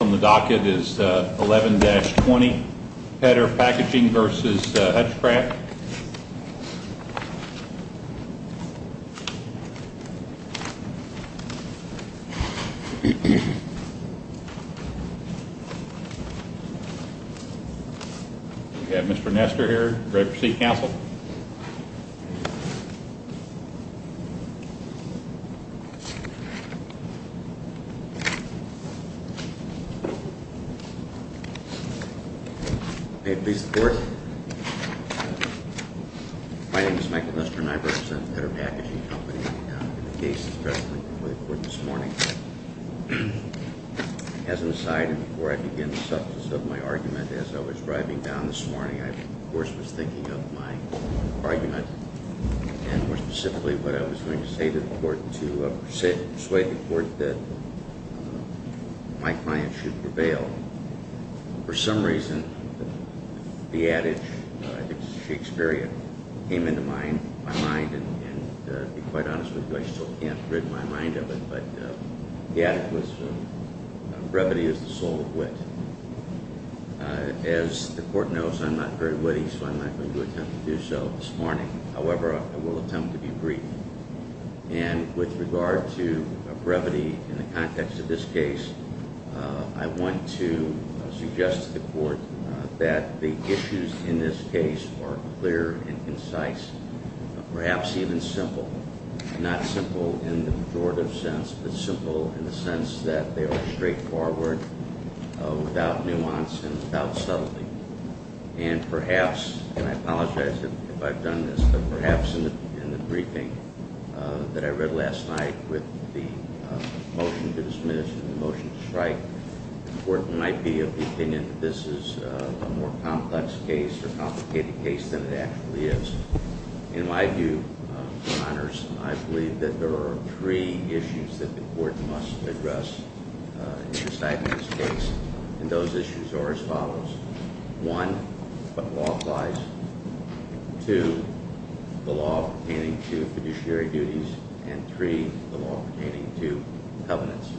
On the docket is 11-20 Petter Packaging v. Hutchcraft. Mr. Nester here, Director of City Council. May it please the Court, my name is Michael Nester and I represent Petter Packaging Company. I'm here today to discuss a case that's been brought before the Court this morning. As an aside and before I begin the substance of my argument, as I was driving down this morning, I of course was thinking of my argument and more specifically what I was going to say to the Court to persuade the Court that my client should prevail. For some reason, the adage, I think it's Shakespearean, came into my mind and to be quite honest with you, I still can't rid my mind of it, but the adage was, brevity is the soul of wit. As the Court knows, I'm not very witty, so I'm not going to attempt to do so this morning. However, I will attempt to be brief. With regard to brevity in the context of this case, I want to suggest to the Court that the issues in this case are clear and concise, perhaps even simple. Not simple in the pejorative sense, but simple in the sense that they are straightforward, without nuance and without subtlety. And perhaps, and I apologize if I've done this, but perhaps in the briefing that I read last night with the motion to dismiss and the motion to strike, the Court might be of the opinion that this is a more complex case or complicated case than it actually is. In my view, Your Honors, I believe that there are three issues that the Court must address in deciding this case, and those issues are as follows. One, what law applies. Two, the law pertaining to fiduciary duties. And three, the law pertaining to covenants.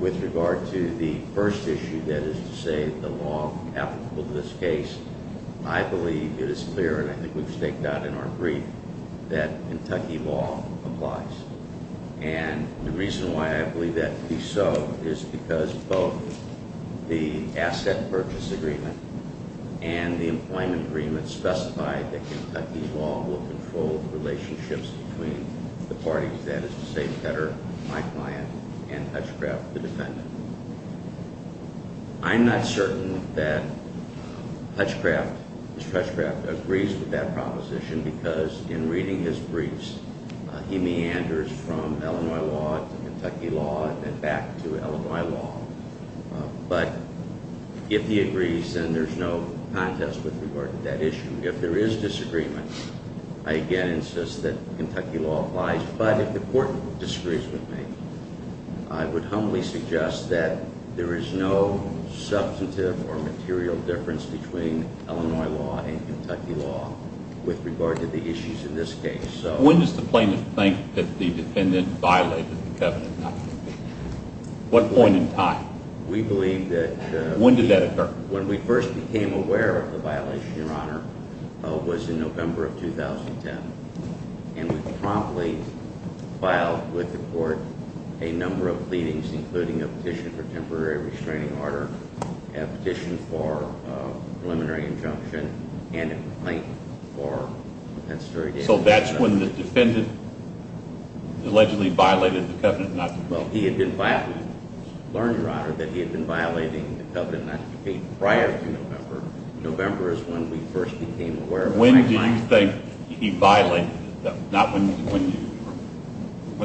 With regard to the first issue, that is to say, the law applicable to this case, I believe it is clear, and I think we've staked out in our brief, that Kentucky law applies. And the reason why I believe that to be so is because both the asset purchase agreement and the employment agreement specify that Kentucky law will control relationships between the parties, that is to say, Petter, my client, and Hutchcraft, the defendant. I'm not certain that Hutchcraft, Mr. Hutchcraft, agrees with that proposition because in reading his briefs, he meanders from Illinois law to Kentucky law and back to Illinois law. But if he agrees, then there's no contest with regard to that issue. If there is disagreement, I again insist that Kentucky law applies. But if the Court disagrees with me, I would humbly suggest that there is no substantive or material difference between Illinois law and Kentucky law with regard to the issues in this case. When does the plaintiff think that the defendant violated the covenant? What point in time? When did that occur? When we first became aware of the violation, Your Honor, was in November of 2010. And we promptly filed with the Court a number of pleadings, including a petition for temporary restraining order, a petition for preliminary injunction, and a complaint for compensatory damages. So that's when the defendant allegedly violated the covenant not to compete? Well, we learned, Your Honor, that he had been violating the covenant not to compete prior to November. When do you think he violated it? Not when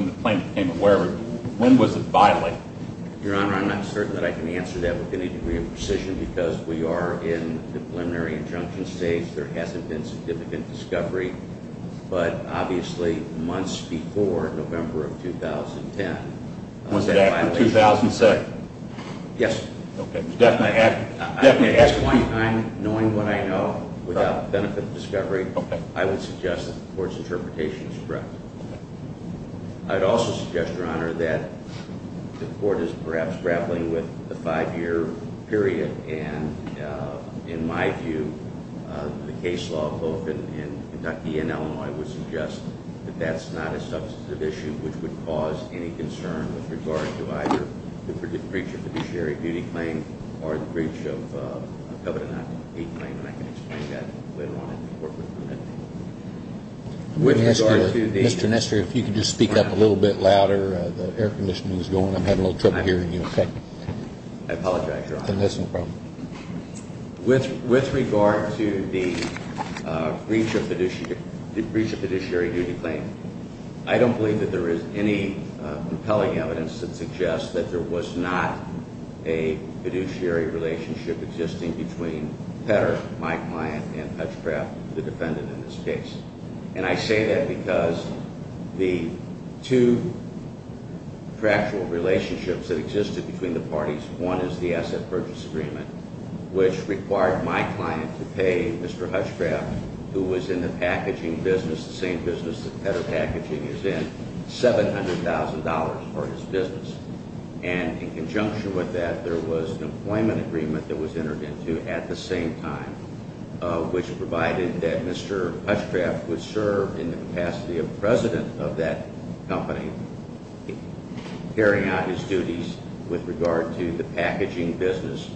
the plaintiff became aware of it. When was it violated? Your Honor, I'm not certain that I can answer that with any degree of precision because we are in the preliminary injunction stage. There hasn't been significant discovery. But obviously months before November of 2010 was that violation. Was it after 2007? Yes. Okay. At this point in time, knowing what I know, without benefit of discovery, I would suggest that the Court's interpretation is correct. I would also suggest, Your Honor, that the Court is perhaps grappling with a five-year period. And in my view, the case law, both in Kentucky and Illinois, would suggest that that's not a substantive issue which would cause any concern with regard to either the breach of fiduciary duty claim or the breach of covenant not to compete claim. And I can explain that later on in the report. Mr. Nestor, if you could just speak up a little bit louder. The air conditioning is going. I'm having a little trouble hearing you. I apologize, Your Honor. With regard to the breach of fiduciary duty claim, I don't believe that there is any compelling evidence that suggests that there was not a fiduciary relationship existing between Petter, my client, and Hutchcraft, the defendant in this case. And I say that because the two factual relationships that existed between the parties, one is the asset purchase agreement, which required my client to pay Mr. Hutchcraft, who was in the packaging business, the same business that Petter Packaging is in, $700,000 for his business. And in conjunction with that, there was an employment agreement that was entered into at the same time, which provided that Mr. Hutchcraft would serve in the capacity of president of that company, carrying out his duties with regard to the packaging business,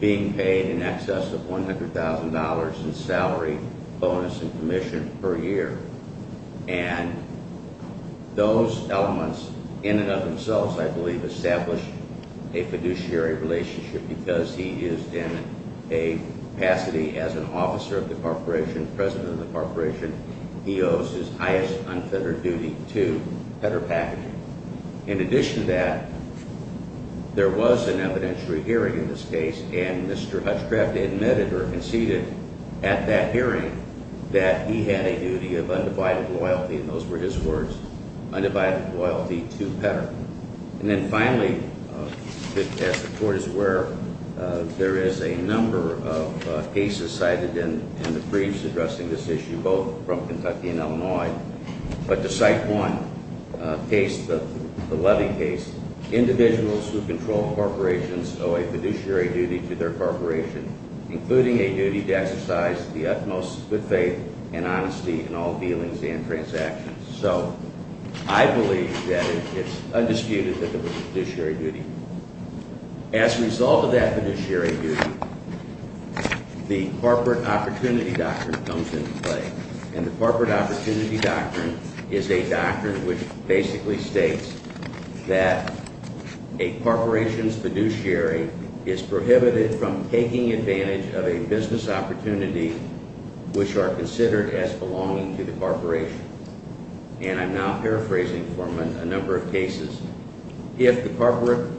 being paid in excess of $100,000 in salary, bonus, and commission per year. And those elements in and of themselves, I believe, establish a fiduciary relationship because he is in a capacity as an officer of the corporation, president of the corporation. He owes his highest unfettered duty to Petter Packaging. In addition to that, there was an evidentiary hearing in this case, and Mr. Hutchcraft admitted or conceded at that hearing that he had a duty of undivided loyalty, and those were his words, undivided loyalty to Petter. And then finally, as the Court is aware, there is a number of cases cited in the briefs but to cite one case, the Levy case, individuals who control corporations owe a fiduciary duty to their corporation, including a duty to exercise the utmost good faith and honesty in all dealings and transactions. So I believe that it's undisputed that there was a fiduciary duty. As a result of that fiduciary duty, the corporate opportunity doctrine comes into play, and the corporate opportunity doctrine is a doctrine which basically states that a corporation's fiduciary is prohibited from taking advantage of a business opportunity which are considered as belonging to the corporation. And I'm now paraphrasing for a number of cases. If the corporate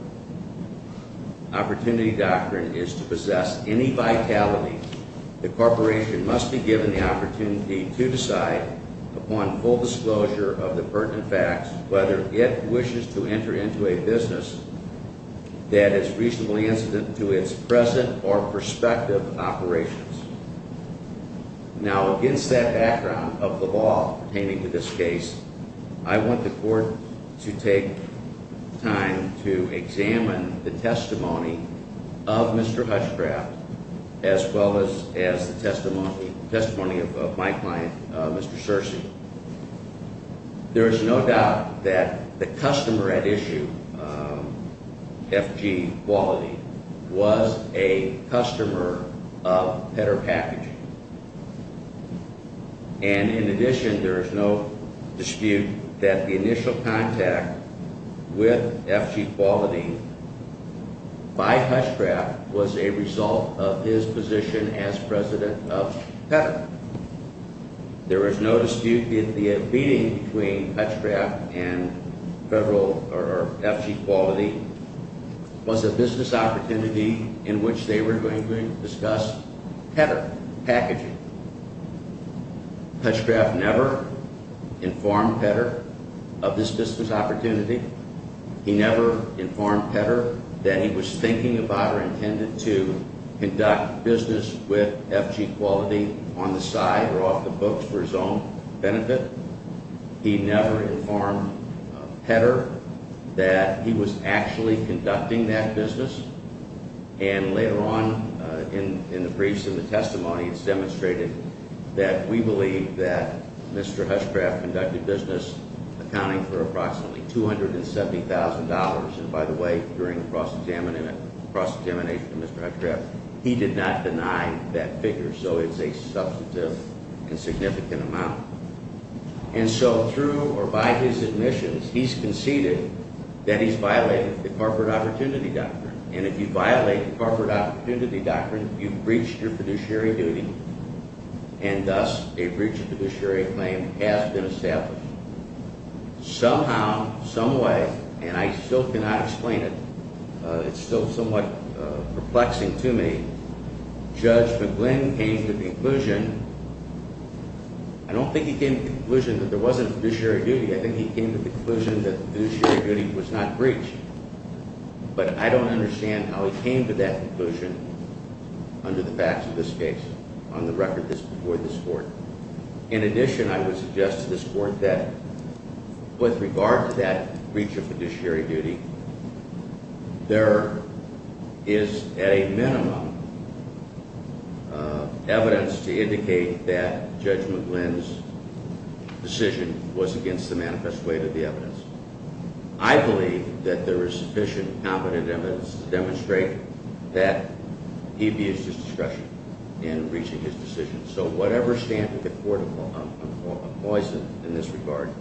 opportunity doctrine is to possess any vitality, the corporation must be given the opportunity to decide upon full disclosure of the pertinent facts whether it wishes to enter into a business that is reasonably incident to its present or prospective operations. Now, against that background of the law pertaining to this case, I want the Court to take time to examine the testimony of Mr. Hutchcraft as well as the testimony of my client, Mr. Searcy. There is no doubt that the customer at issue, FG Quality, was a customer of Pedder Packaging. And in addition, there is no dispute that the initial contact with FG Quality by Hutchcraft was a result of his position as president of Pedder. There is no dispute that the meeting between Hutchcraft and FG Quality was a business opportunity in which they were going to discuss Pedder Packaging. Hutchcraft never informed Pedder of this business opportunity. He never informed Pedder that he was thinking about or intended to conduct business with FG Quality on the side or off the books for his own benefit. He never informed Pedder that he was actually conducting that business. And later on in the briefs and the testimony, it's demonstrated that we believe that Mr. Hutchcraft conducted business accounting for approximately $270,000. And by the way, during the cross-examination of Mr. Hutchcraft, he did not deny that figure, so it's a substantive and significant amount. And so through or by his admissions, he's conceded that he's violated the corporate opportunity doctrine. And if you violate the corporate opportunity doctrine, you've breached your fiduciary duty, and thus a breach of fiduciary claim has been established. Somehow, someway, and I still cannot explain it, it's still somewhat perplexing to me, Judge McGlynn came to the conclusion. I don't think he came to the conclusion that there wasn't a fiduciary duty. I think he came to the conclusion that fiduciary duty was not breached. But I don't understand how he came to that conclusion under the facts of this case on the record before this Court. In addition, I would suggest to this Court that with regard to that breach of fiduciary duty, there is at a minimum evidence to indicate that Judge McGlynn's decision was against the manifest weight of the evidence. I believe that there is sufficient, competent evidence to demonstrate that he abused his discretion in reaching his decision. So whatever standard the Court employs in this regard,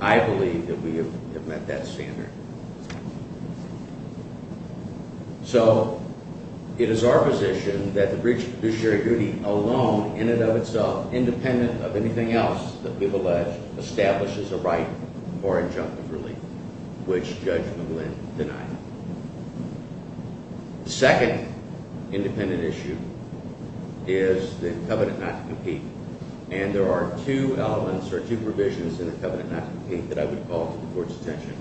I believe that we have met that standard. So it is our position that the breach of fiduciary duty alone, in and of itself, independent of anything else that we've alleged, establishes a right for injunctive relief, which Judge McGlynn denied. The second independent issue is the covenant not to compete. And there are two elements or two provisions in the covenant not to compete that I would call to the Court's attention.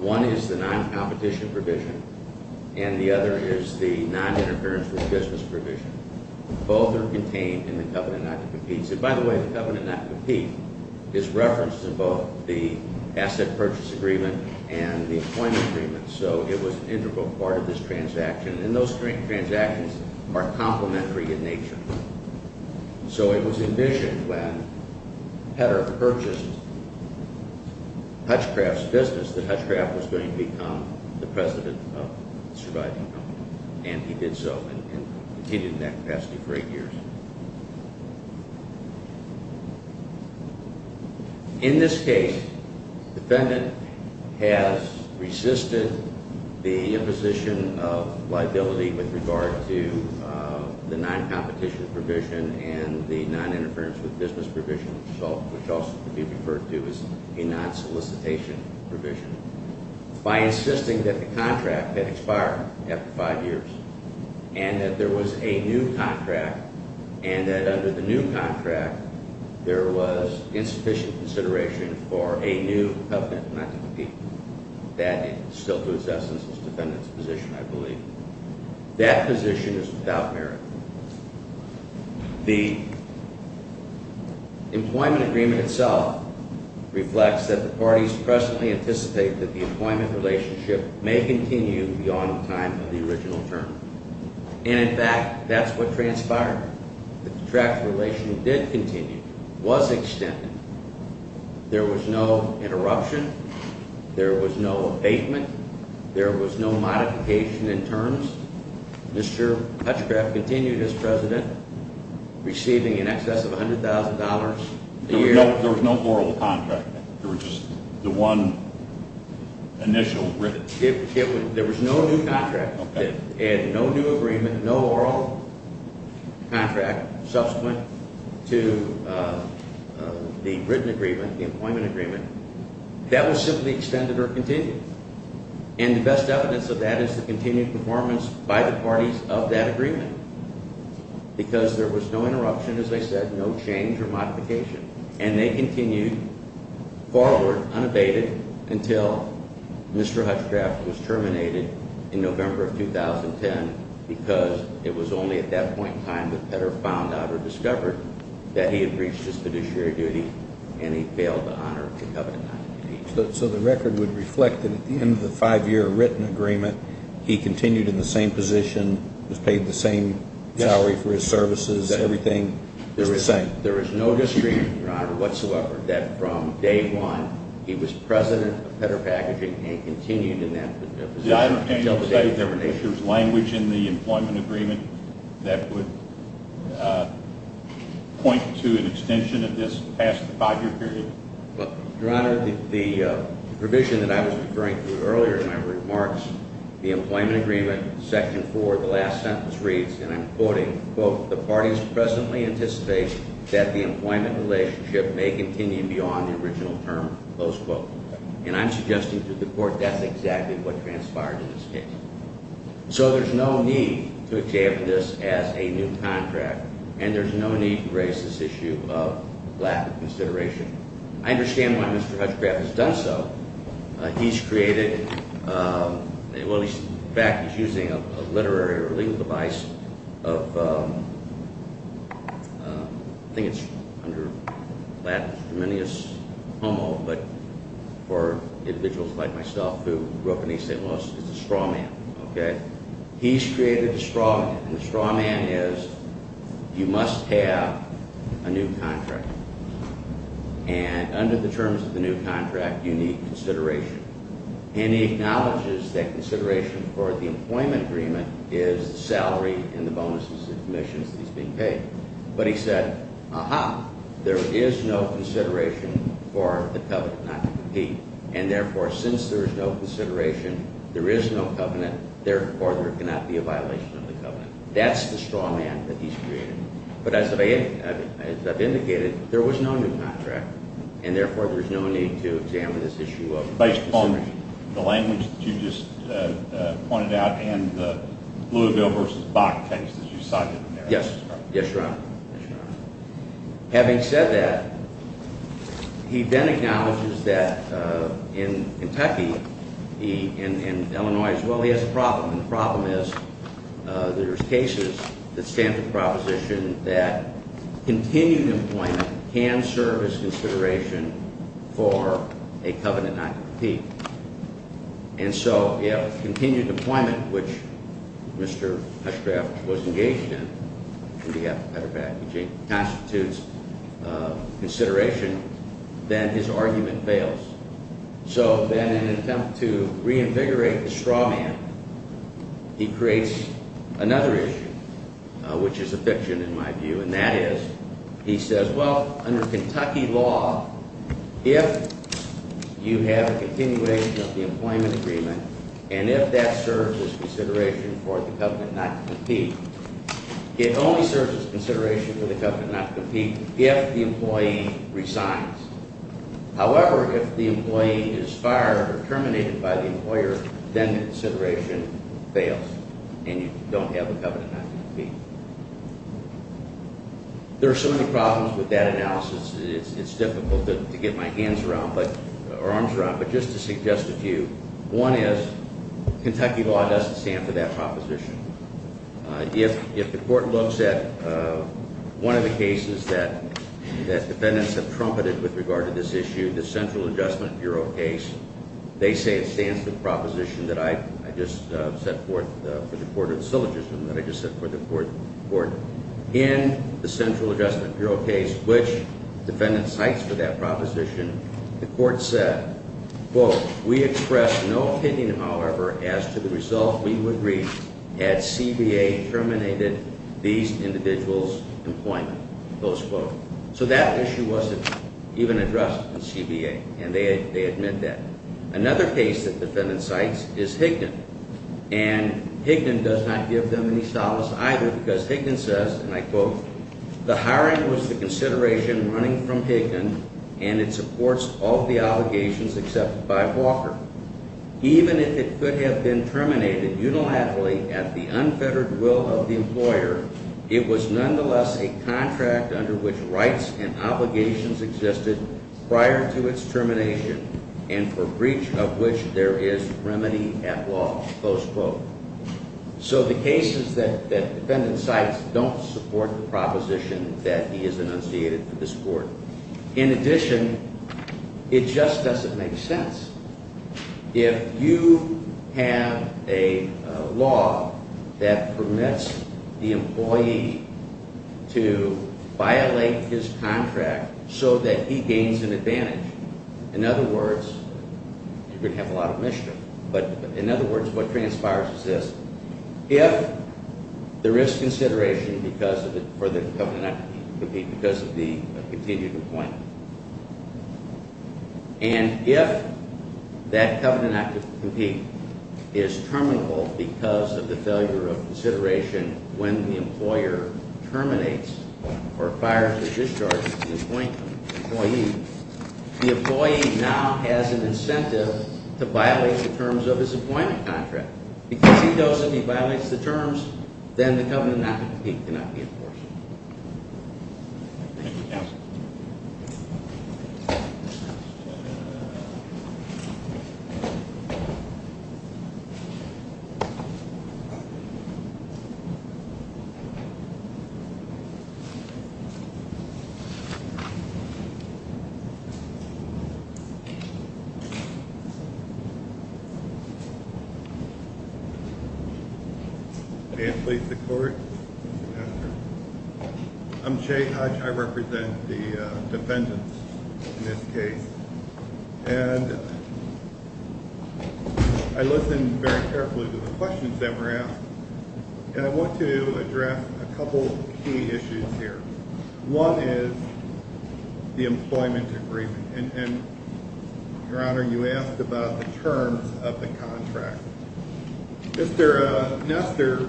One is the non-competition provision, and the other is the non-interference with business provision. Both are contained in the covenant not to compete. And by the way, the covenant not to compete is referenced in both the asset purchase agreement and the appointment agreement. So it was an integral part of this transaction, and those transactions are complementary in nature. So it was envisioned when Petter purchased Hutchcraft's business that Hutchcraft was going to become the president of the surviving company. And he did so, and he did it in that capacity for eight years. In this case, the defendant has resisted the imposition of liability with regard to the non-competition provision and the non-interference with business provision, which also could be referred to as a non-solicitation provision, by insisting that the contract had expired after five years and that there was a new contract and that under the new contract there was insufficient consideration for a new covenant not to compete. That is still to its essence its defendant's position, I believe. That position is without merit. The employment agreement itself reflects that the parties presently anticipate that the employment relationship may continue beyond the time of the original term. And in fact, that's what transpired. The contract relation did continue, was extended. There was no interruption. There was no abatement. There was no modification in terms. Mr. Hutchcraft continued as president, receiving in excess of $100,000 a year. There was no oral contract? There was just the one initial written? There was no new contract. Okay. And no new agreement, no oral contract subsequent to the written agreement, the employment agreement. That was simply extended or continued. And the best evidence of that is the continued performance by the parties of that agreement. Because there was no interruption, as I said, no change or modification. And they continued forward, unabated, until Mr. Hutchcraft was terminated in November of 2010 because it was only at that point in time that Petter found out or discovered that he had reached his fiduciary duty and he failed to honor the covenant not to compete. So the record would reflect that at the end of the five-year written agreement, he continued in the same position, was paid the same salary for his services, everything is the same. There is no discrepancy, Your Honor, whatsoever that from day one he was president of Petter Packaging and continued in that position until the day of termination. Did I understand you to say there was language in the employment agreement that would point to an extension of this past five-year period? Your Honor, the provision that I was referring to earlier in my remarks, the employment agreement, Section 4, the last sentence reads, and I'm quoting, quote, the parties presently anticipate that the employment relationship may continue beyond the original term, close quote. And I'm suggesting to the Court that's exactly what transpired in this case. So there's no need to examine this as a new contract, and there's no need to raise this issue of Latin consideration. I understand why Mr. Hutchcraft has done so. He's created, well, in fact, he's using a literary or legal device of, I think it's under Latin, but for individuals like myself who grew up in East St. Louis, it's a straw man, okay? He's created a straw man, and the straw man is you must have a new contract. And under the terms of the new contract, you need consideration. And he acknowledges that consideration for the employment agreement is the salary and the bonuses and commissions that he's being paid. But he said, aha, there is no consideration for the covenant not to compete, and therefore since there is no consideration, there is no covenant, therefore there cannot be a violation of the covenant. That's the straw man that he's created. But as I've indicated, there was no new contract, and therefore there's no need to examine this issue of consideration. Based upon the language that you just pointed out and the Louisville v. Bach case that you cited in there. Yes? Yes, Your Honor. Having said that, he then acknowledges that in Kentucky, in Illinois as well, he has a problem, and the problem is there's cases that stand for the proposition that continued employment can serve as consideration for a covenant not to compete. And so if continued employment, which Mr. Hutchcraft was engaged in, and we have a better package, constitutes consideration, then his argument fails. So then in an attempt to reinvigorate the straw man, he creates another issue, which is a fiction in my view, and that is, he says, well, under Kentucky law, if you have a continuation of the employment agreement, and if that serves as consideration for the covenant not to compete, it only serves as consideration for the covenant not to compete if the employee resigns. However, if the employee is fired or terminated by the employer, then the consideration fails, and you don't have a covenant not to compete. There are so many problems with that analysis, it's difficult to get my hands around or arms around, but just to suggest a few. One is, Kentucky law doesn't stand for that proposition. If the court looks at one of the cases that defendants have trumpeted with regard to this issue, the Central Adjustment Bureau case, they say it stands for the proposition that I just set forth for the court of syllogism, that I just set forth for the court, in the Central Adjustment Bureau case, which defendants cite for that proposition, the court said, quote, we express no opinion, however, as to the result we would reach had CBA terminated these individuals' employment, close quote. So that issue wasn't even addressed in CBA, and they admit that. Another case that defendants cite is Higdon, and Higdon does not give them any solace either, because Higdon says, and I quote, the hiring was the consideration running from Higdon, and it supports all of the obligations accepted by Walker. Even if it could have been terminated unilaterally at the unfettered will of the employer, it was nonetheless a contract under which rights and obligations existed prior to its termination, and for breach of which there is remedy at law, close quote. So the cases that defendants cite don't support the proposition that he has enunciated for this court. In addition, it just doesn't make sense. If you have a law that permits the employee to violate his contract so that he gains an advantage, in other words, you're going to have a lot of mischief. But in other words, what transpires is this. If the risk consideration for the covenant would be because of the continued employment, and if that covenant not to compete is terminable because of the failure of consideration when the employer terminates or fires or discharges the employee, the employee now has an incentive to violate the terms of his employment contract. Because he goes and he violates the terms, then the covenant not to compete cannot be enforced. Thank you, counsel. May it please the Court. I'm Jay Hutch. I represent the defendants in this case. And I listened very carefully to the questions that were asked. And I want to address a couple of key issues here. One is the employment agreement. And, Your Honor, you asked about the terms of the contract. Mr. Nestor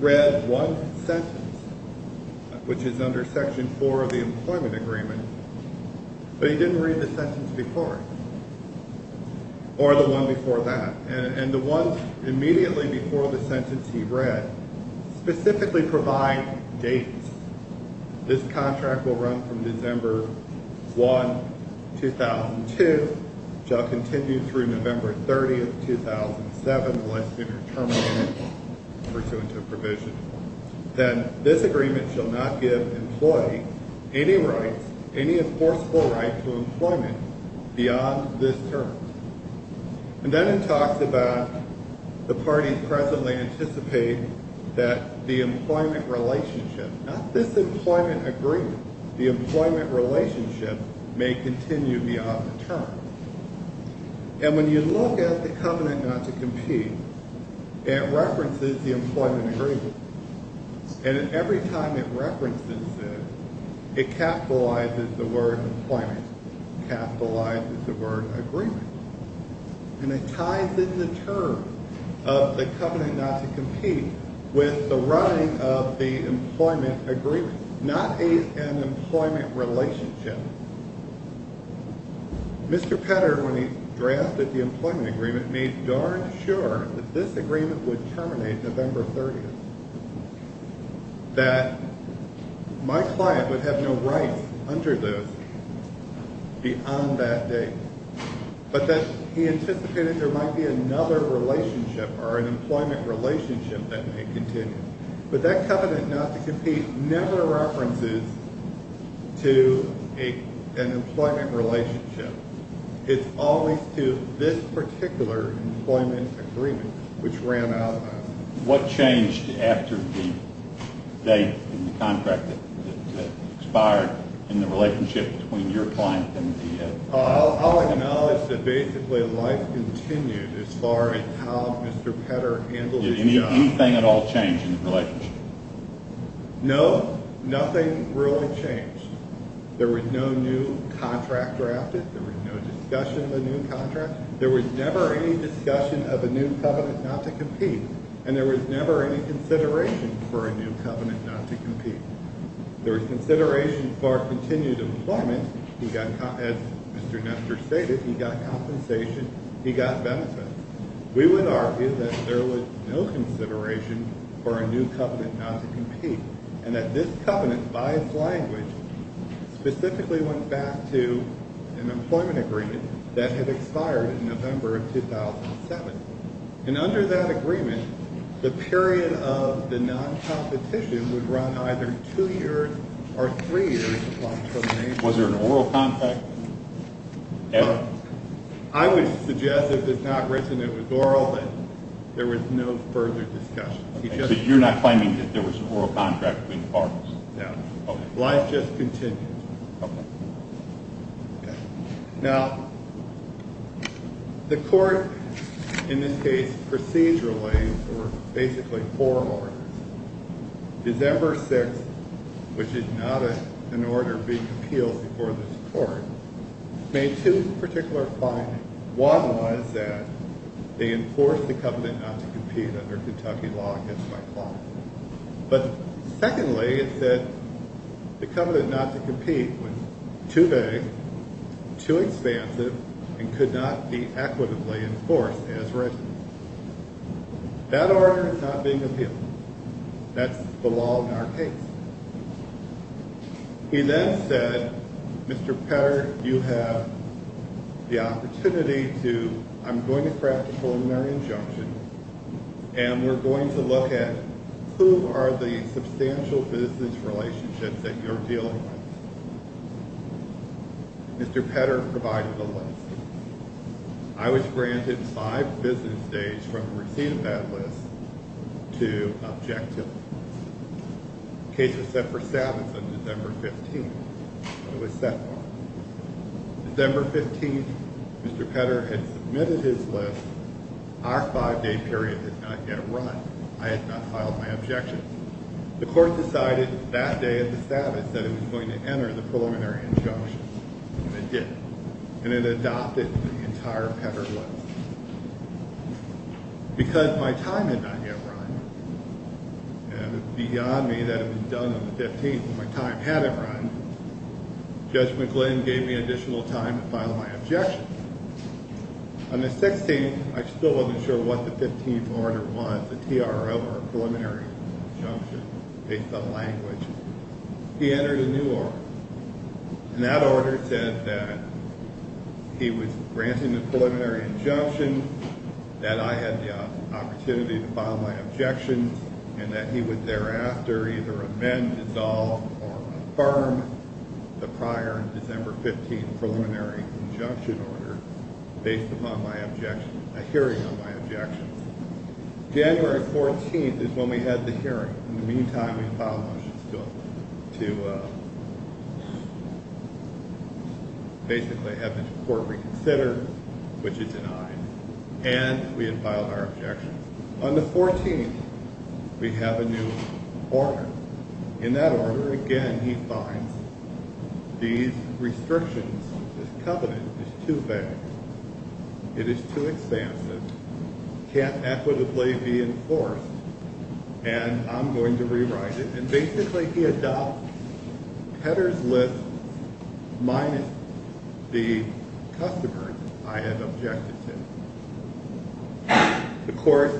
read one sentence, which is under Section 4 of the employment agreement, but he didn't read the sentence before, or the one before that. And the one immediately before the sentence he read specifically provided dates. This contract will run from December 1, 2002. It shall continue through November 30, 2007, unless it is terminated pursuant to a provision. And this agreement shall not give employees any rights, any enforceable right to employment beyond this term. And then it talks about the parties presently anticipate that the employment relationship, not this employment agreement, the employment relationship may continue beyond the term. And when you look at the covenant not to compete, it references the employment agreement. And every time it references it, it capitalizes the word employment, capitalizes the word agreement. And it ties in the term of the covenant not to compete with the running of the employment agreement, not an employment relationship. Mr. Petter, when he drafted the employment agreement, made darn sure that this agreement would terminate November 30, that my client would have no rights under those beyond that date, but that he anticipated there might be another relationship or an employment relationship that may continue. But that covenant not to compete never references to an employment relationship. It's always to this particular employment agreement, which ran out of time. What changed after the date in the contract that expired in the relationship between your client and the… I'll acknowledge that basically life continued as far as how Mr. Petter handled his job. Did anything at all change in the relationship? No, nothing really changed. There was no new contract drafted. There was no discussion of a new contract. There was never any discussion of a new covenant not to compete. And there was never any consideration for a new covenant not to compete. There was consideration for continued employment. As Mr. Nestor stated, he got compensation. He got benefits. We would argue that there was no consideration for a new covenant not to compete and that this covenant, by its language, specifically went back to an employment agreement that had expired in November of 2007. And under that agreement, the period of the noncompetition would run either two years or three years. Was there an oral contract? I would suggest if it's not written it was oral that there was no further discussion. So you're not claiming that there was an oral contract between the parties? No. Okay. Life just continued. Okay. Okay. Now, the court, in this case, procedurally, or basically for oral orders, December 6th, which is not an order being appealed before this court, made two particular findings. One was that they enforced the covenant not to compete under Kentucky law against my clause. But secondly, it said the covenant not to compete was too vague, too expansive, and could not be equitably enforced as written. That order is not being appealed. That's the law in our case. He then said, Mr. Petter, you have the opportunity to, I'm going to craft a preliminary injunction, and we're going to look at who are the substantial business relationships that you're dealing with. Mr. Petter provided a list. I was granted five business days from receipt of that list to objectivity. The case was set for Sabbath on December 15th. It was set for. December 15th, Mr. Petter had submitted his list. Our five-day period had not yet run. I had not filed my objections. The court decided that day of the Sabbath that it was going to enter the preliminary injunction, and it did. And it adopted the entire Petter list. Because my time had not yet run, and it was beyond me that it was done on the 15th when my time hadn't run, Judge McGlynn gave me additional time to file my objections. On the 16th, I still wasn't sure what the 15th order was, the TRO, or preliminary injunction, based on language. He entered a new order. And that order said that he was granting the preliminary injunction, that I had the opportunity to file my objections, and that he would thereafter either amend, dissolve, or affirm the prior December 15th preliminary injunction order, based upon my objection, a hearing on my objections. January 14th is when we had the hearing. In the meantime, we had filed motions to basically have the court reconsider, which it denied. And we had filed our objections. On the 14th, we have a new order. In that order, again, he finds these restrictions, this covenant, is too vague. It is too expansive. Can't equitably be enforced. And I'm going to rewrite it. And basically, he adopts Petter's list minus the customers I had objected to. The court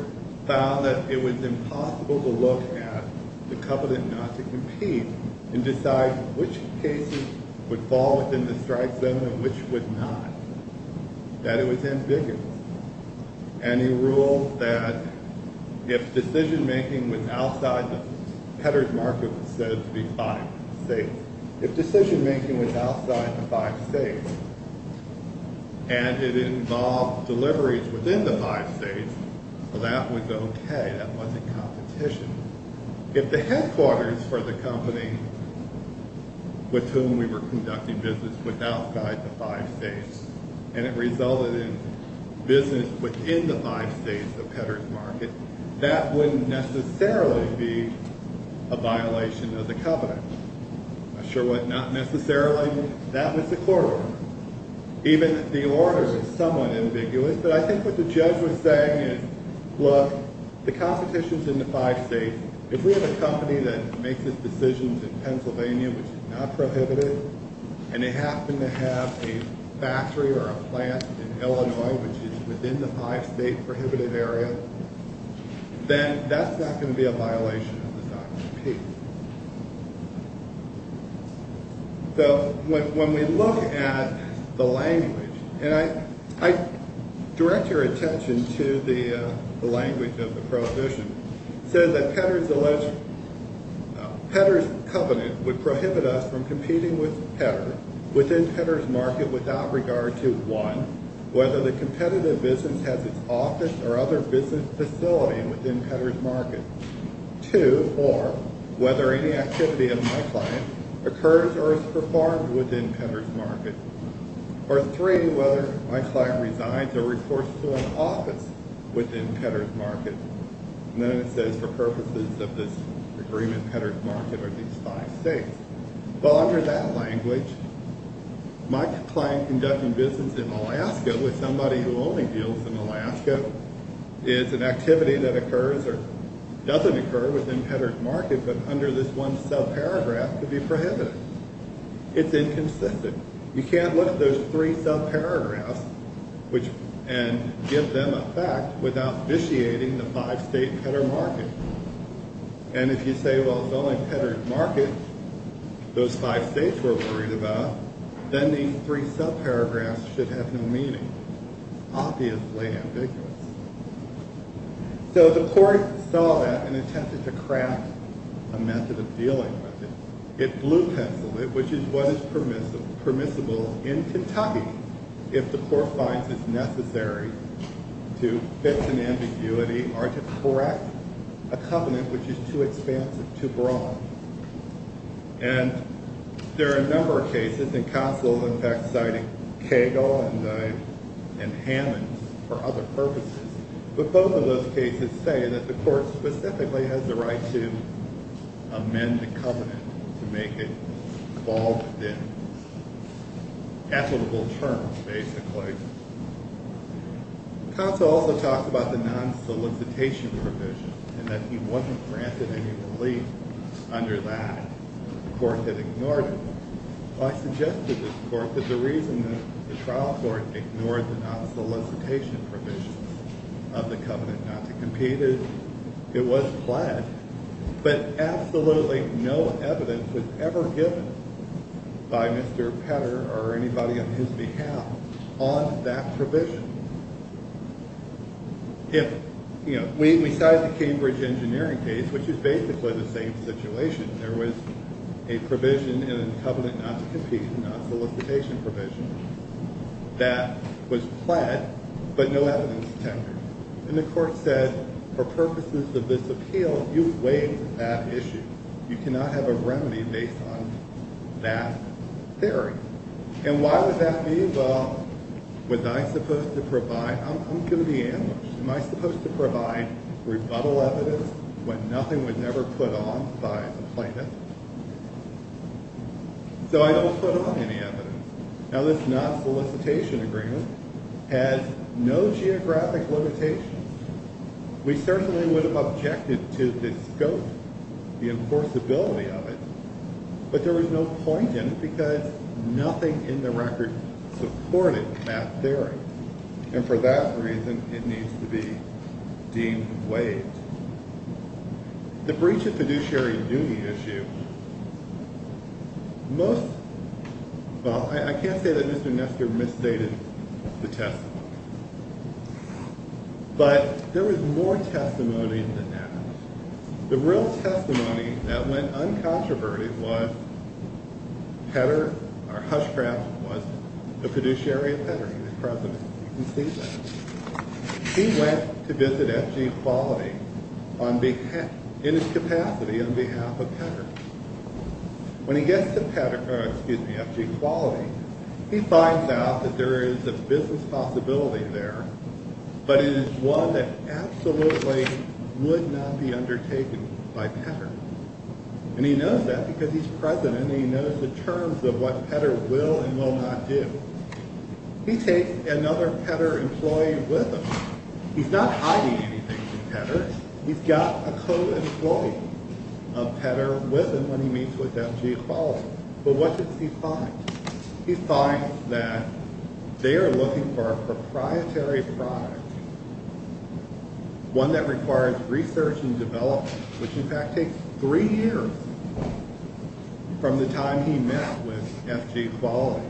found that it was impossible to look at the covenant not to compete, and decide which cases would fall within the strike zone and which would not. That it was ambiguous. And he ruled that if decision-making was outside the Petter's mark of what's said to be five states, if decision-making was outside the five states, and it involved deliveries within the five states, that was okay. That wasn't competition. If the headquarters for the company with whom we were conducting business was outside the five states, and it resulted in business within the five states of Petter's market, that wouldn't necessarily be a violation of the covenant. Not necessarily. That was the court order. Even the order is somewhat ambiguous. But I think what the judge was saying is, look, the competition is in the five states. If we have a company that makes its decisions in Pennsylvania, which is not prohibited, and they happen to have a factory or a plant in Illinois, which is within the five-state prohibited area, then that's not going to be a violation of the sign of the peace. So when we look at the language, and I direct your attention to the language of the Prohibition. It says that Petter's covenant would prohibit us from competing with Petter within Petter's market without regard to, one, whether the competitive business has its office or other business facility within Petter's market, two, or whether any activity of my client occurs or is performed within Petter's market, or three, whether my client resigns or reports to an office within Petter's market. And then it says, for purposes of this agreement, Petter's market are these five states. Well, under that language, my client conducting business in Alaska with somebody who only deals in Alaska is an activity that occurs or doesn't occur within Petter's market, but under this one subparagraph could be prohibited. It's inconsistent. You can't look at those three subparagraphs and give them effect without vitiating the five-state Petter market. And if you say, well, it's only Petter's market those five states were worried about, then these three subparagraphs should have no meaning, obviously ambiguous. So the court saw that and attempted to craft a method of dealing with it. It blue-penciled it, which is what is permissible in Kentucky, if the court finds it necessary to fix an ambiguity or to correct a covenant which is too expansive, too broad. And there are a number of cases, and counsel, in fact, cited Cagle and Hammonds for other purposes. But both of those cases say that the court specifically has the right to amend the covenant to make it fall within equitable terms, basically. Counsel also talked about the non-solicitation provision and that he wasn't granted any relief under that. The court had ignored it. I suggested to the court that the reason that the trial court ignored the non-solicitation provisions of the covenant not to compete is it was fled. But absolutely no evidence was ever given by Mr. Petter or anybody on his behalf on that provision. If, you know, besides the Cambridge engineering case, which is basically the same situation, there was a provision in the covenant not to compete, a non-solicitation provision, that was fled, but no evidence tendered. And the court said, for purposes of this appeal, you waived that issue. You cannot have a remedy based on that theory. And why would that be? Well, was I supposed to provide? I'm going to be ambushed. Am I supposed to provide rebuttal evidence when nothing was ever put on by the plaintiff? So I don't put on any evidence. Now, this non-solicitation agreement has no geographic limitations. We certainly would have objected to the scope, the enforceability of it. But there was no point in it because nothing in the record supported that theory. And for that reason, it needs to be deemed waived. The breach of fiduciary duty issue, most – well, I can't say that Mr. Nestor misstated the testimony. But there was more testimony than that. The real testimony that went uncontroverted was Petter – or Hushcraft was the fiduciary of Petter. He was president. You can see that. He went to visit F.G. Quality in his capacity on behalf of Petter. When he gets to Petter – or excuse me, F.G. Quality, he finds out that there is a business possibility there, but it is one that absolutely would not be undertaken by Petter. And he knows that because he's president and he knows the terms of what Petter will and will not do. He takes another Petter employee with him. He's not hiding anything from Petter. He's got a co-employee of Petter with him when he meets with F.G. Quality. But what does he find? He finds that they are looking for a proprietary product, one that requires research and development, which in fact takes three years from the time he met with F.G. Quality,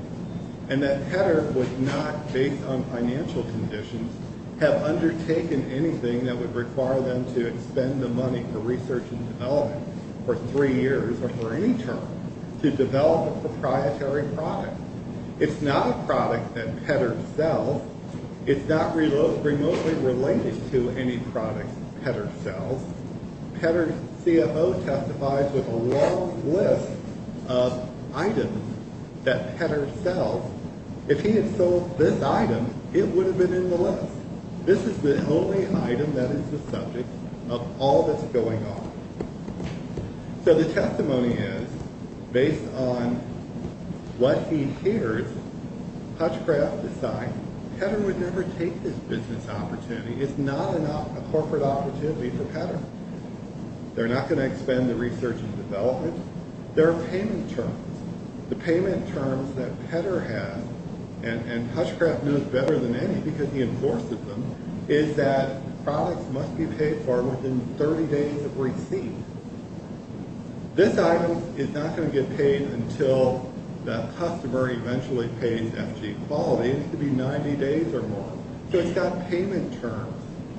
and that Petter would not, based on financial conditions, have undertaken anything that would require them to expend the money for research and development for three years or for any term to develop a proprietary product. It's not a product that Petter sells. It's not remotely related to any products Petter sells. Petter's CFO testifies with a long list of items that Petter sells. If he had sold this item, it would have been in the list. This is the only item that is the subject of all that's going on. So the testimony is, based on what he hears, Hutchcraft decides Petter would never take this business opportunity. It's not a corporate opportunity for Petter. They're not going to expend the research and development. There are payment terms. The payment terms that Petter has, and Hutchcraft knows better than any because he enforces them, is that products must be paid for within 30 days of receipt. This item is not going to get paid until the customer eventually pays F.G. Quality. It could be 90 days or more. So it's got payment terms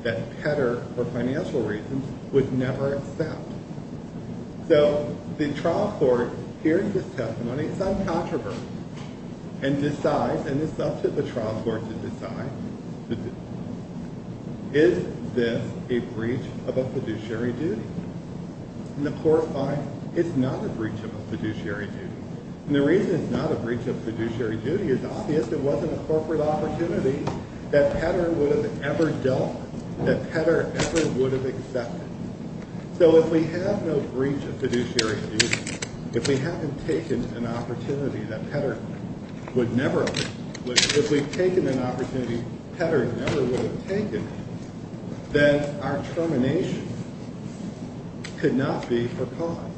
that Petter, for financial reasons, would never accept. So the trial court, hearing this testimony, it's uncontroversial, and decides, and it's up to the trial court to decide, is this a breach of a fiduciary duty? And the court finds it's not a breach of a fiduciary duty. And the reason it's not a breach of fiduciary duty is obvious it wasn't a corporate opportunity that Petter would have ever dealt with, that Petter ever would have accepted. So if we have no breach of fiduciary duty, if we haven't taken an opportunity that Petter would never have, if we've taken an opportunity Petter never would have taken, then our termination could not be for cause.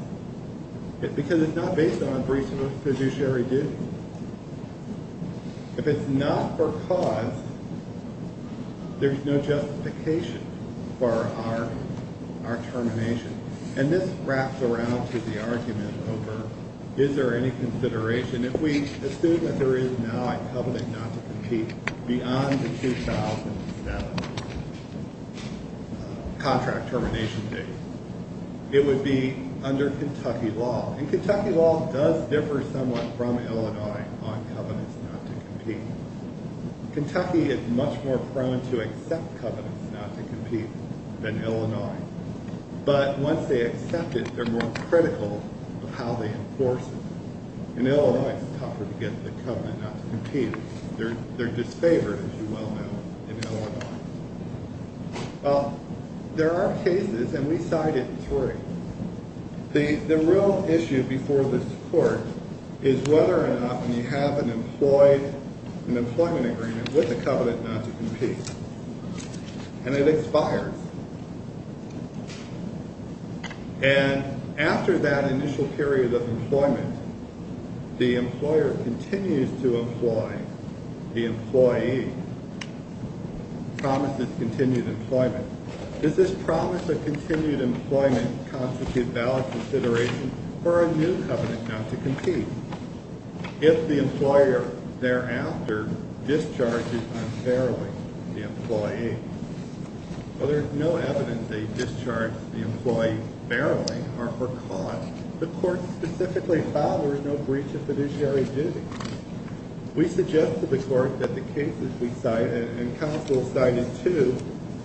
Because it's not based on a breach of a fiduciary duty. If it's not for cause, there's no justification for our termination. And this wraps around to the argument over is there any consideration, if we assume that there is now a covenant not to compete beyond the 2007 contract termination date, it would be under Kentucky law. And Kentucky law does differ somewhat from Illinois on covenants not to compete. Kentucky is much more prone to accept covenants not to compete than Illinois. But once they accept it, they're more critical of how they enforce it. In Illinois, it's tougher to get the covenant not to compete. They're disfavored, as you well know, in Illinois. Well, there are cases, and we cited three. The real issue before this court is whether or not when you have an employment agreement with a covenant not to compete, and it expires. And after that initial period of employment, the employer continues to employ the employee, promises continued employment. Does this promise of continued employment constitute valid consideration for a new covenant not to compete? If the employer thereafter discharges unfairly the employee, well, there's no evidence they discharge the employee fairly or for cause. The court specifically fathers no breach of fiduciary duty. We suggest to the court that the cases we cite, and counsel cited two,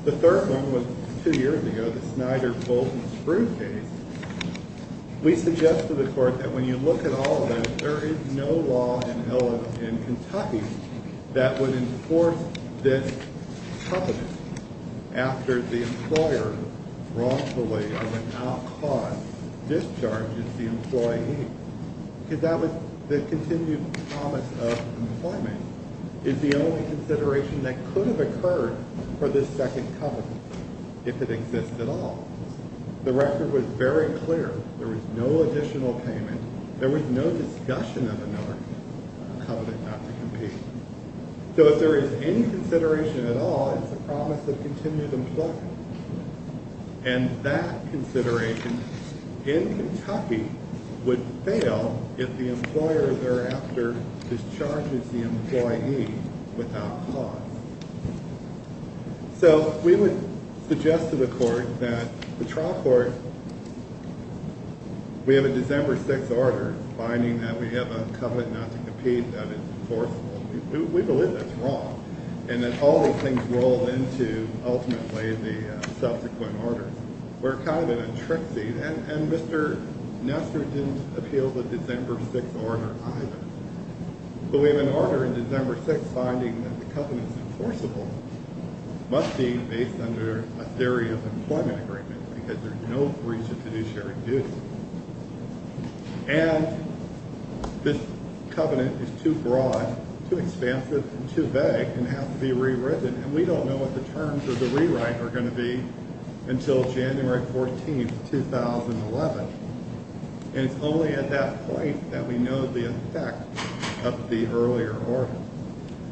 the third one was two years ago, the Snyder-Bolton-Sprue case. We suggest to the court that when you look at all of them, there is no law in Illinois and Kentucky that would enforce this covenant after the employer wrongfully or without cause discharges the employee, because that would, the continued promise of employment is the only consideration that could have occurred for this second covenant, if it exists at all. The record was very clear. There was no additional payment. There was no discussion of another covenant not to compete. So if there is any consideration at all, it's a promise of continued employment. And that consideration in Kentucky would fail if the employer thereafter discharges the employee without cause. So we would suggest to the court that the trial court, we have a December 6th order, finding that we have a covenant not to compete that is enforceable. We believe that's wrong, and that all those things roll into ultimately the subsequent order. We're kind of in a tricksy, and Mr. Nestor didn't appeal the December 6th order either. But we have an order in December 6th finding that the covenant is enforceable, must be based under a theory of employment agreement, because there's no breach of fiduciary duty. And this covenant is too broad, too expansive, and too vague, and has to be rewritten. And we don't know what the terms of the rewrite are going to be until January 14th, 2011. And it's only at that point that we know the effect of the earlier order.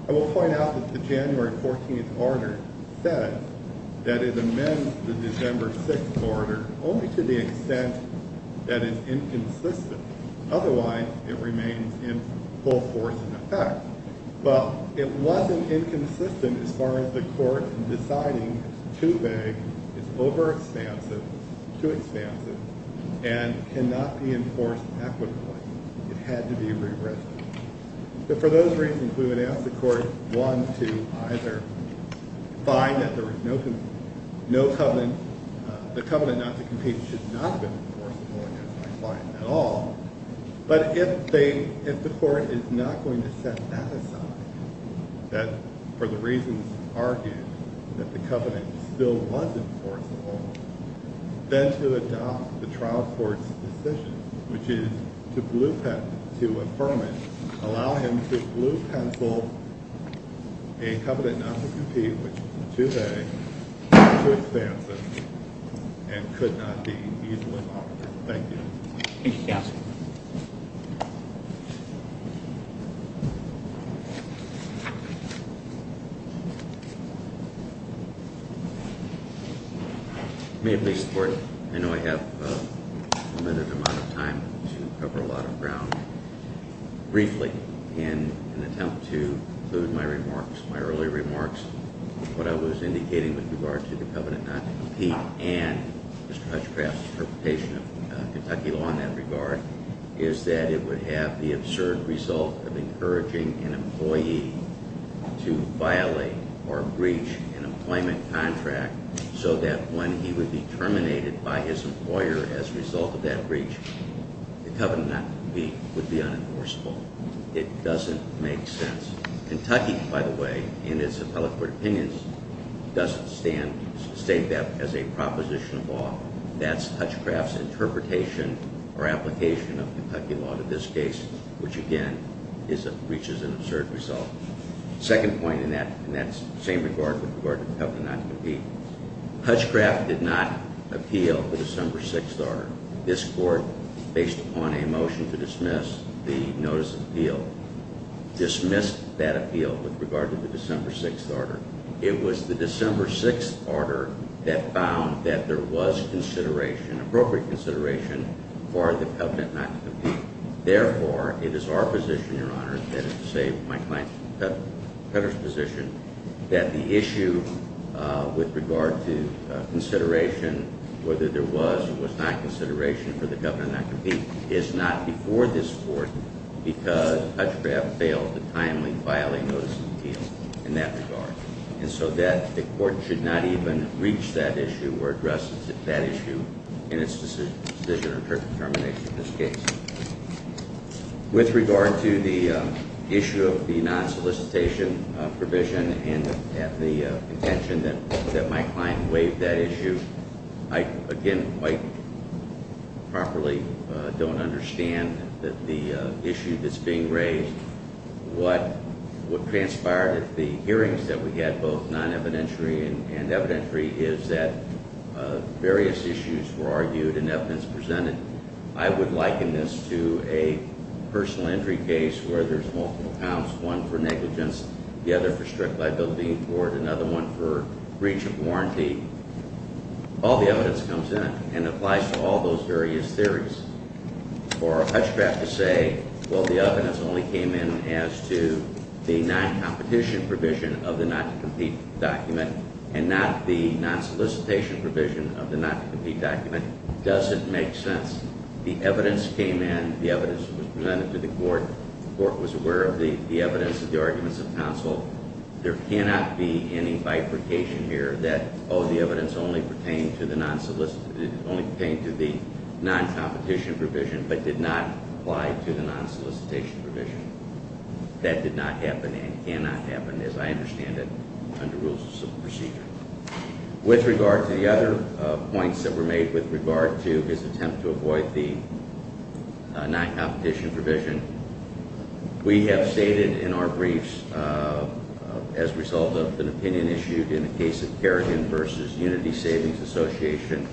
I will point out that the January 14th order says that it amends the December 6th order only to the extent that it's inconsistent. Otherwise, it remains in full force and effect. Well, it wasn't inconsistent as far as the court deciding it's too vague, it's overexpansive, too expansive, and cannot be enforced equitably. It had to be rewritten. But for those reasons, we would ask the court, one, to either find that there is no covenant, the covenant not to compete should not have been enforceable against my client at all, but if the court is not going to set that aside, that for the reasons argued, that the covenant still was enforceable, then to adopt the trial court's decision, which is to affirm it, allow him to blue pencil a covenant not to compete, which is too vague, too expansive, and could not be easily monitored. Thank you. Thank you, counsel. May it please the court, I know I have a limited amount of time to cover a lot of ground. Briefly, in an attempt to conclude my remarks, my earlier remarks, what I was indicating with regard to the covenant not to compete and Mr. Hutchcraft's interpretation of Kentucky law in that regard is that it would have the absurd result of encouraging an employee to violate or breach an employment contract so that when he would be terminated by his employer as a result of that breach, the covenant not to compete would be unenforceable. It doesn't make sense. Kentucky, by the way, in its appellate court opinions, doesn't state that as a proposition of law. That's Hutchcraft's interpretation or application of Kentucky law to this case, which again, reaches an absurd result. Second point in that same regard with regard to the covenant not to compete, Hutchcraft did not appeal the December 6th order. This court, based upon a motion to dismiss the notice of appeal, dismissed that appeal with regard to the December 6th order. It was the December 6th order that found that there was consideration, appropriate consideration, for the covenant not to compete. Therefore, it is our position, your honor, that is to say my client's position, that the issue with regard to consideration, whether there was or was not consideration for the covenant not to compete, is not before this court because Hutchcraft failed to timely violate notice of appeal in that regard. And so that the court should not even reach that issue or address that issue in its decision or termination of this case. With regard to the issue of the non-solicitation provision and the intention that my client waive that issue, I, again, quite properly don't understand the issue that's being raised. What transpired at the hearings that we had, both non-evidentiary and evidentiary, is that various issues were argued and evidence presented. I would liken this to a personal injury case where there's multiple counts, one for negligence, the other for strict liability, or another one for breach of warranty. All the evidence comes in and applies to all those various theories. For Hutchcraft to say, well, the evidence only came in as to the non-competition provision of the not-to-compete document and not the non-solicitation provision of the not-to-compete document doesn't make sense. The evidence came in. The evidence was presented to the court. The court was aware of the evidence of the arguments of counsel. There cannot be any bifurcation here that, oh, the evidence only pertained to the non-competition provision but did not apply to the non-solicitation provision. That did not happen and cannot happen, as I understand it, under rules of civil procedure. With regard to the other points that were made with regard to his attempt to avoid the non-competition provision, we have stated in our briefs, as a result of an opinion issued in the case of Kerrigan v. Unity Savings Association,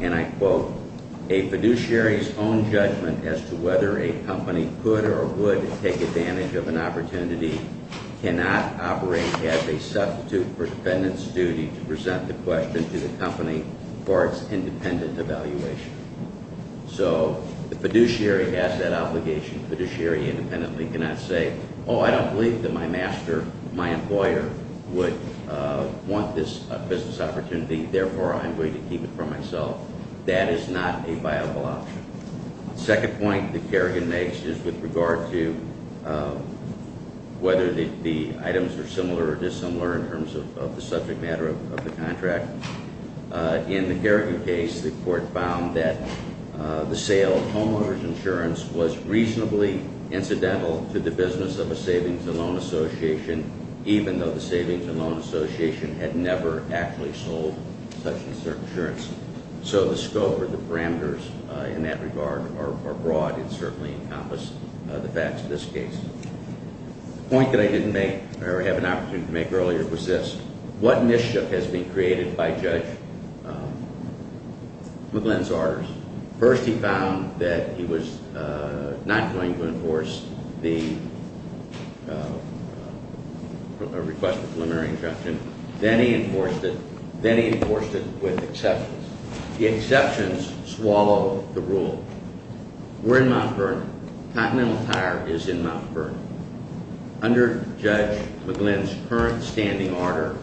and I quote, a fiduciary's own judgment as to whether a company could or would take advantage of an opportunity cannot operate as a substitute for a defendant's duty to present the question to the company for its independent evaluation. So the fiduciary has that obligation. The fiduciary independently cannot say, oh, I don't believe that my master, my employer, would want this business opportunity. Therefore, I'm going to keep it for myself. That is not a viable option. The second point that Kerrigan makes is with regard to whether the items are similar or dissimilar in terms of the subject matter of the contract. In the Kerrigan case, the court found that the sale of homeowners insurance was reasonably incidental to the business of a savings and loan association, even though the savings and loan association had never actually sold such insurance. So the scope or the parameters in that regard are broad and certainly encompass the facts of this case. The point that I didn't make or have an opportunity to make earlier was this. What initiative has been created by Judge McGlynn's orders? First, he found that he was not going to enforce the request for preliminary interruption. Then he enforced it. Then he enforced it with exceptions. The exceptions swallow the rule. We're in Mount Vernon. Continental Tire is in Mount Vernon. Under Judge McGlynn's current standing order,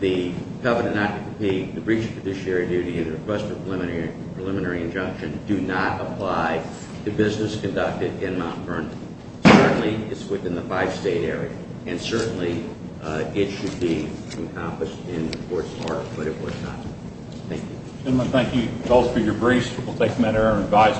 the covenant not to compete, the breach of fiduciary duty, and the request for preliminary injunction do not apply to business conducted in Mount Vernon. Certainly, it's within the five-state area. And certainly, it should be accomplished in the court's heart, but it was not. Thank you. Gentlemen, thank you. That calls for your briefs. We'll take them at our advisement.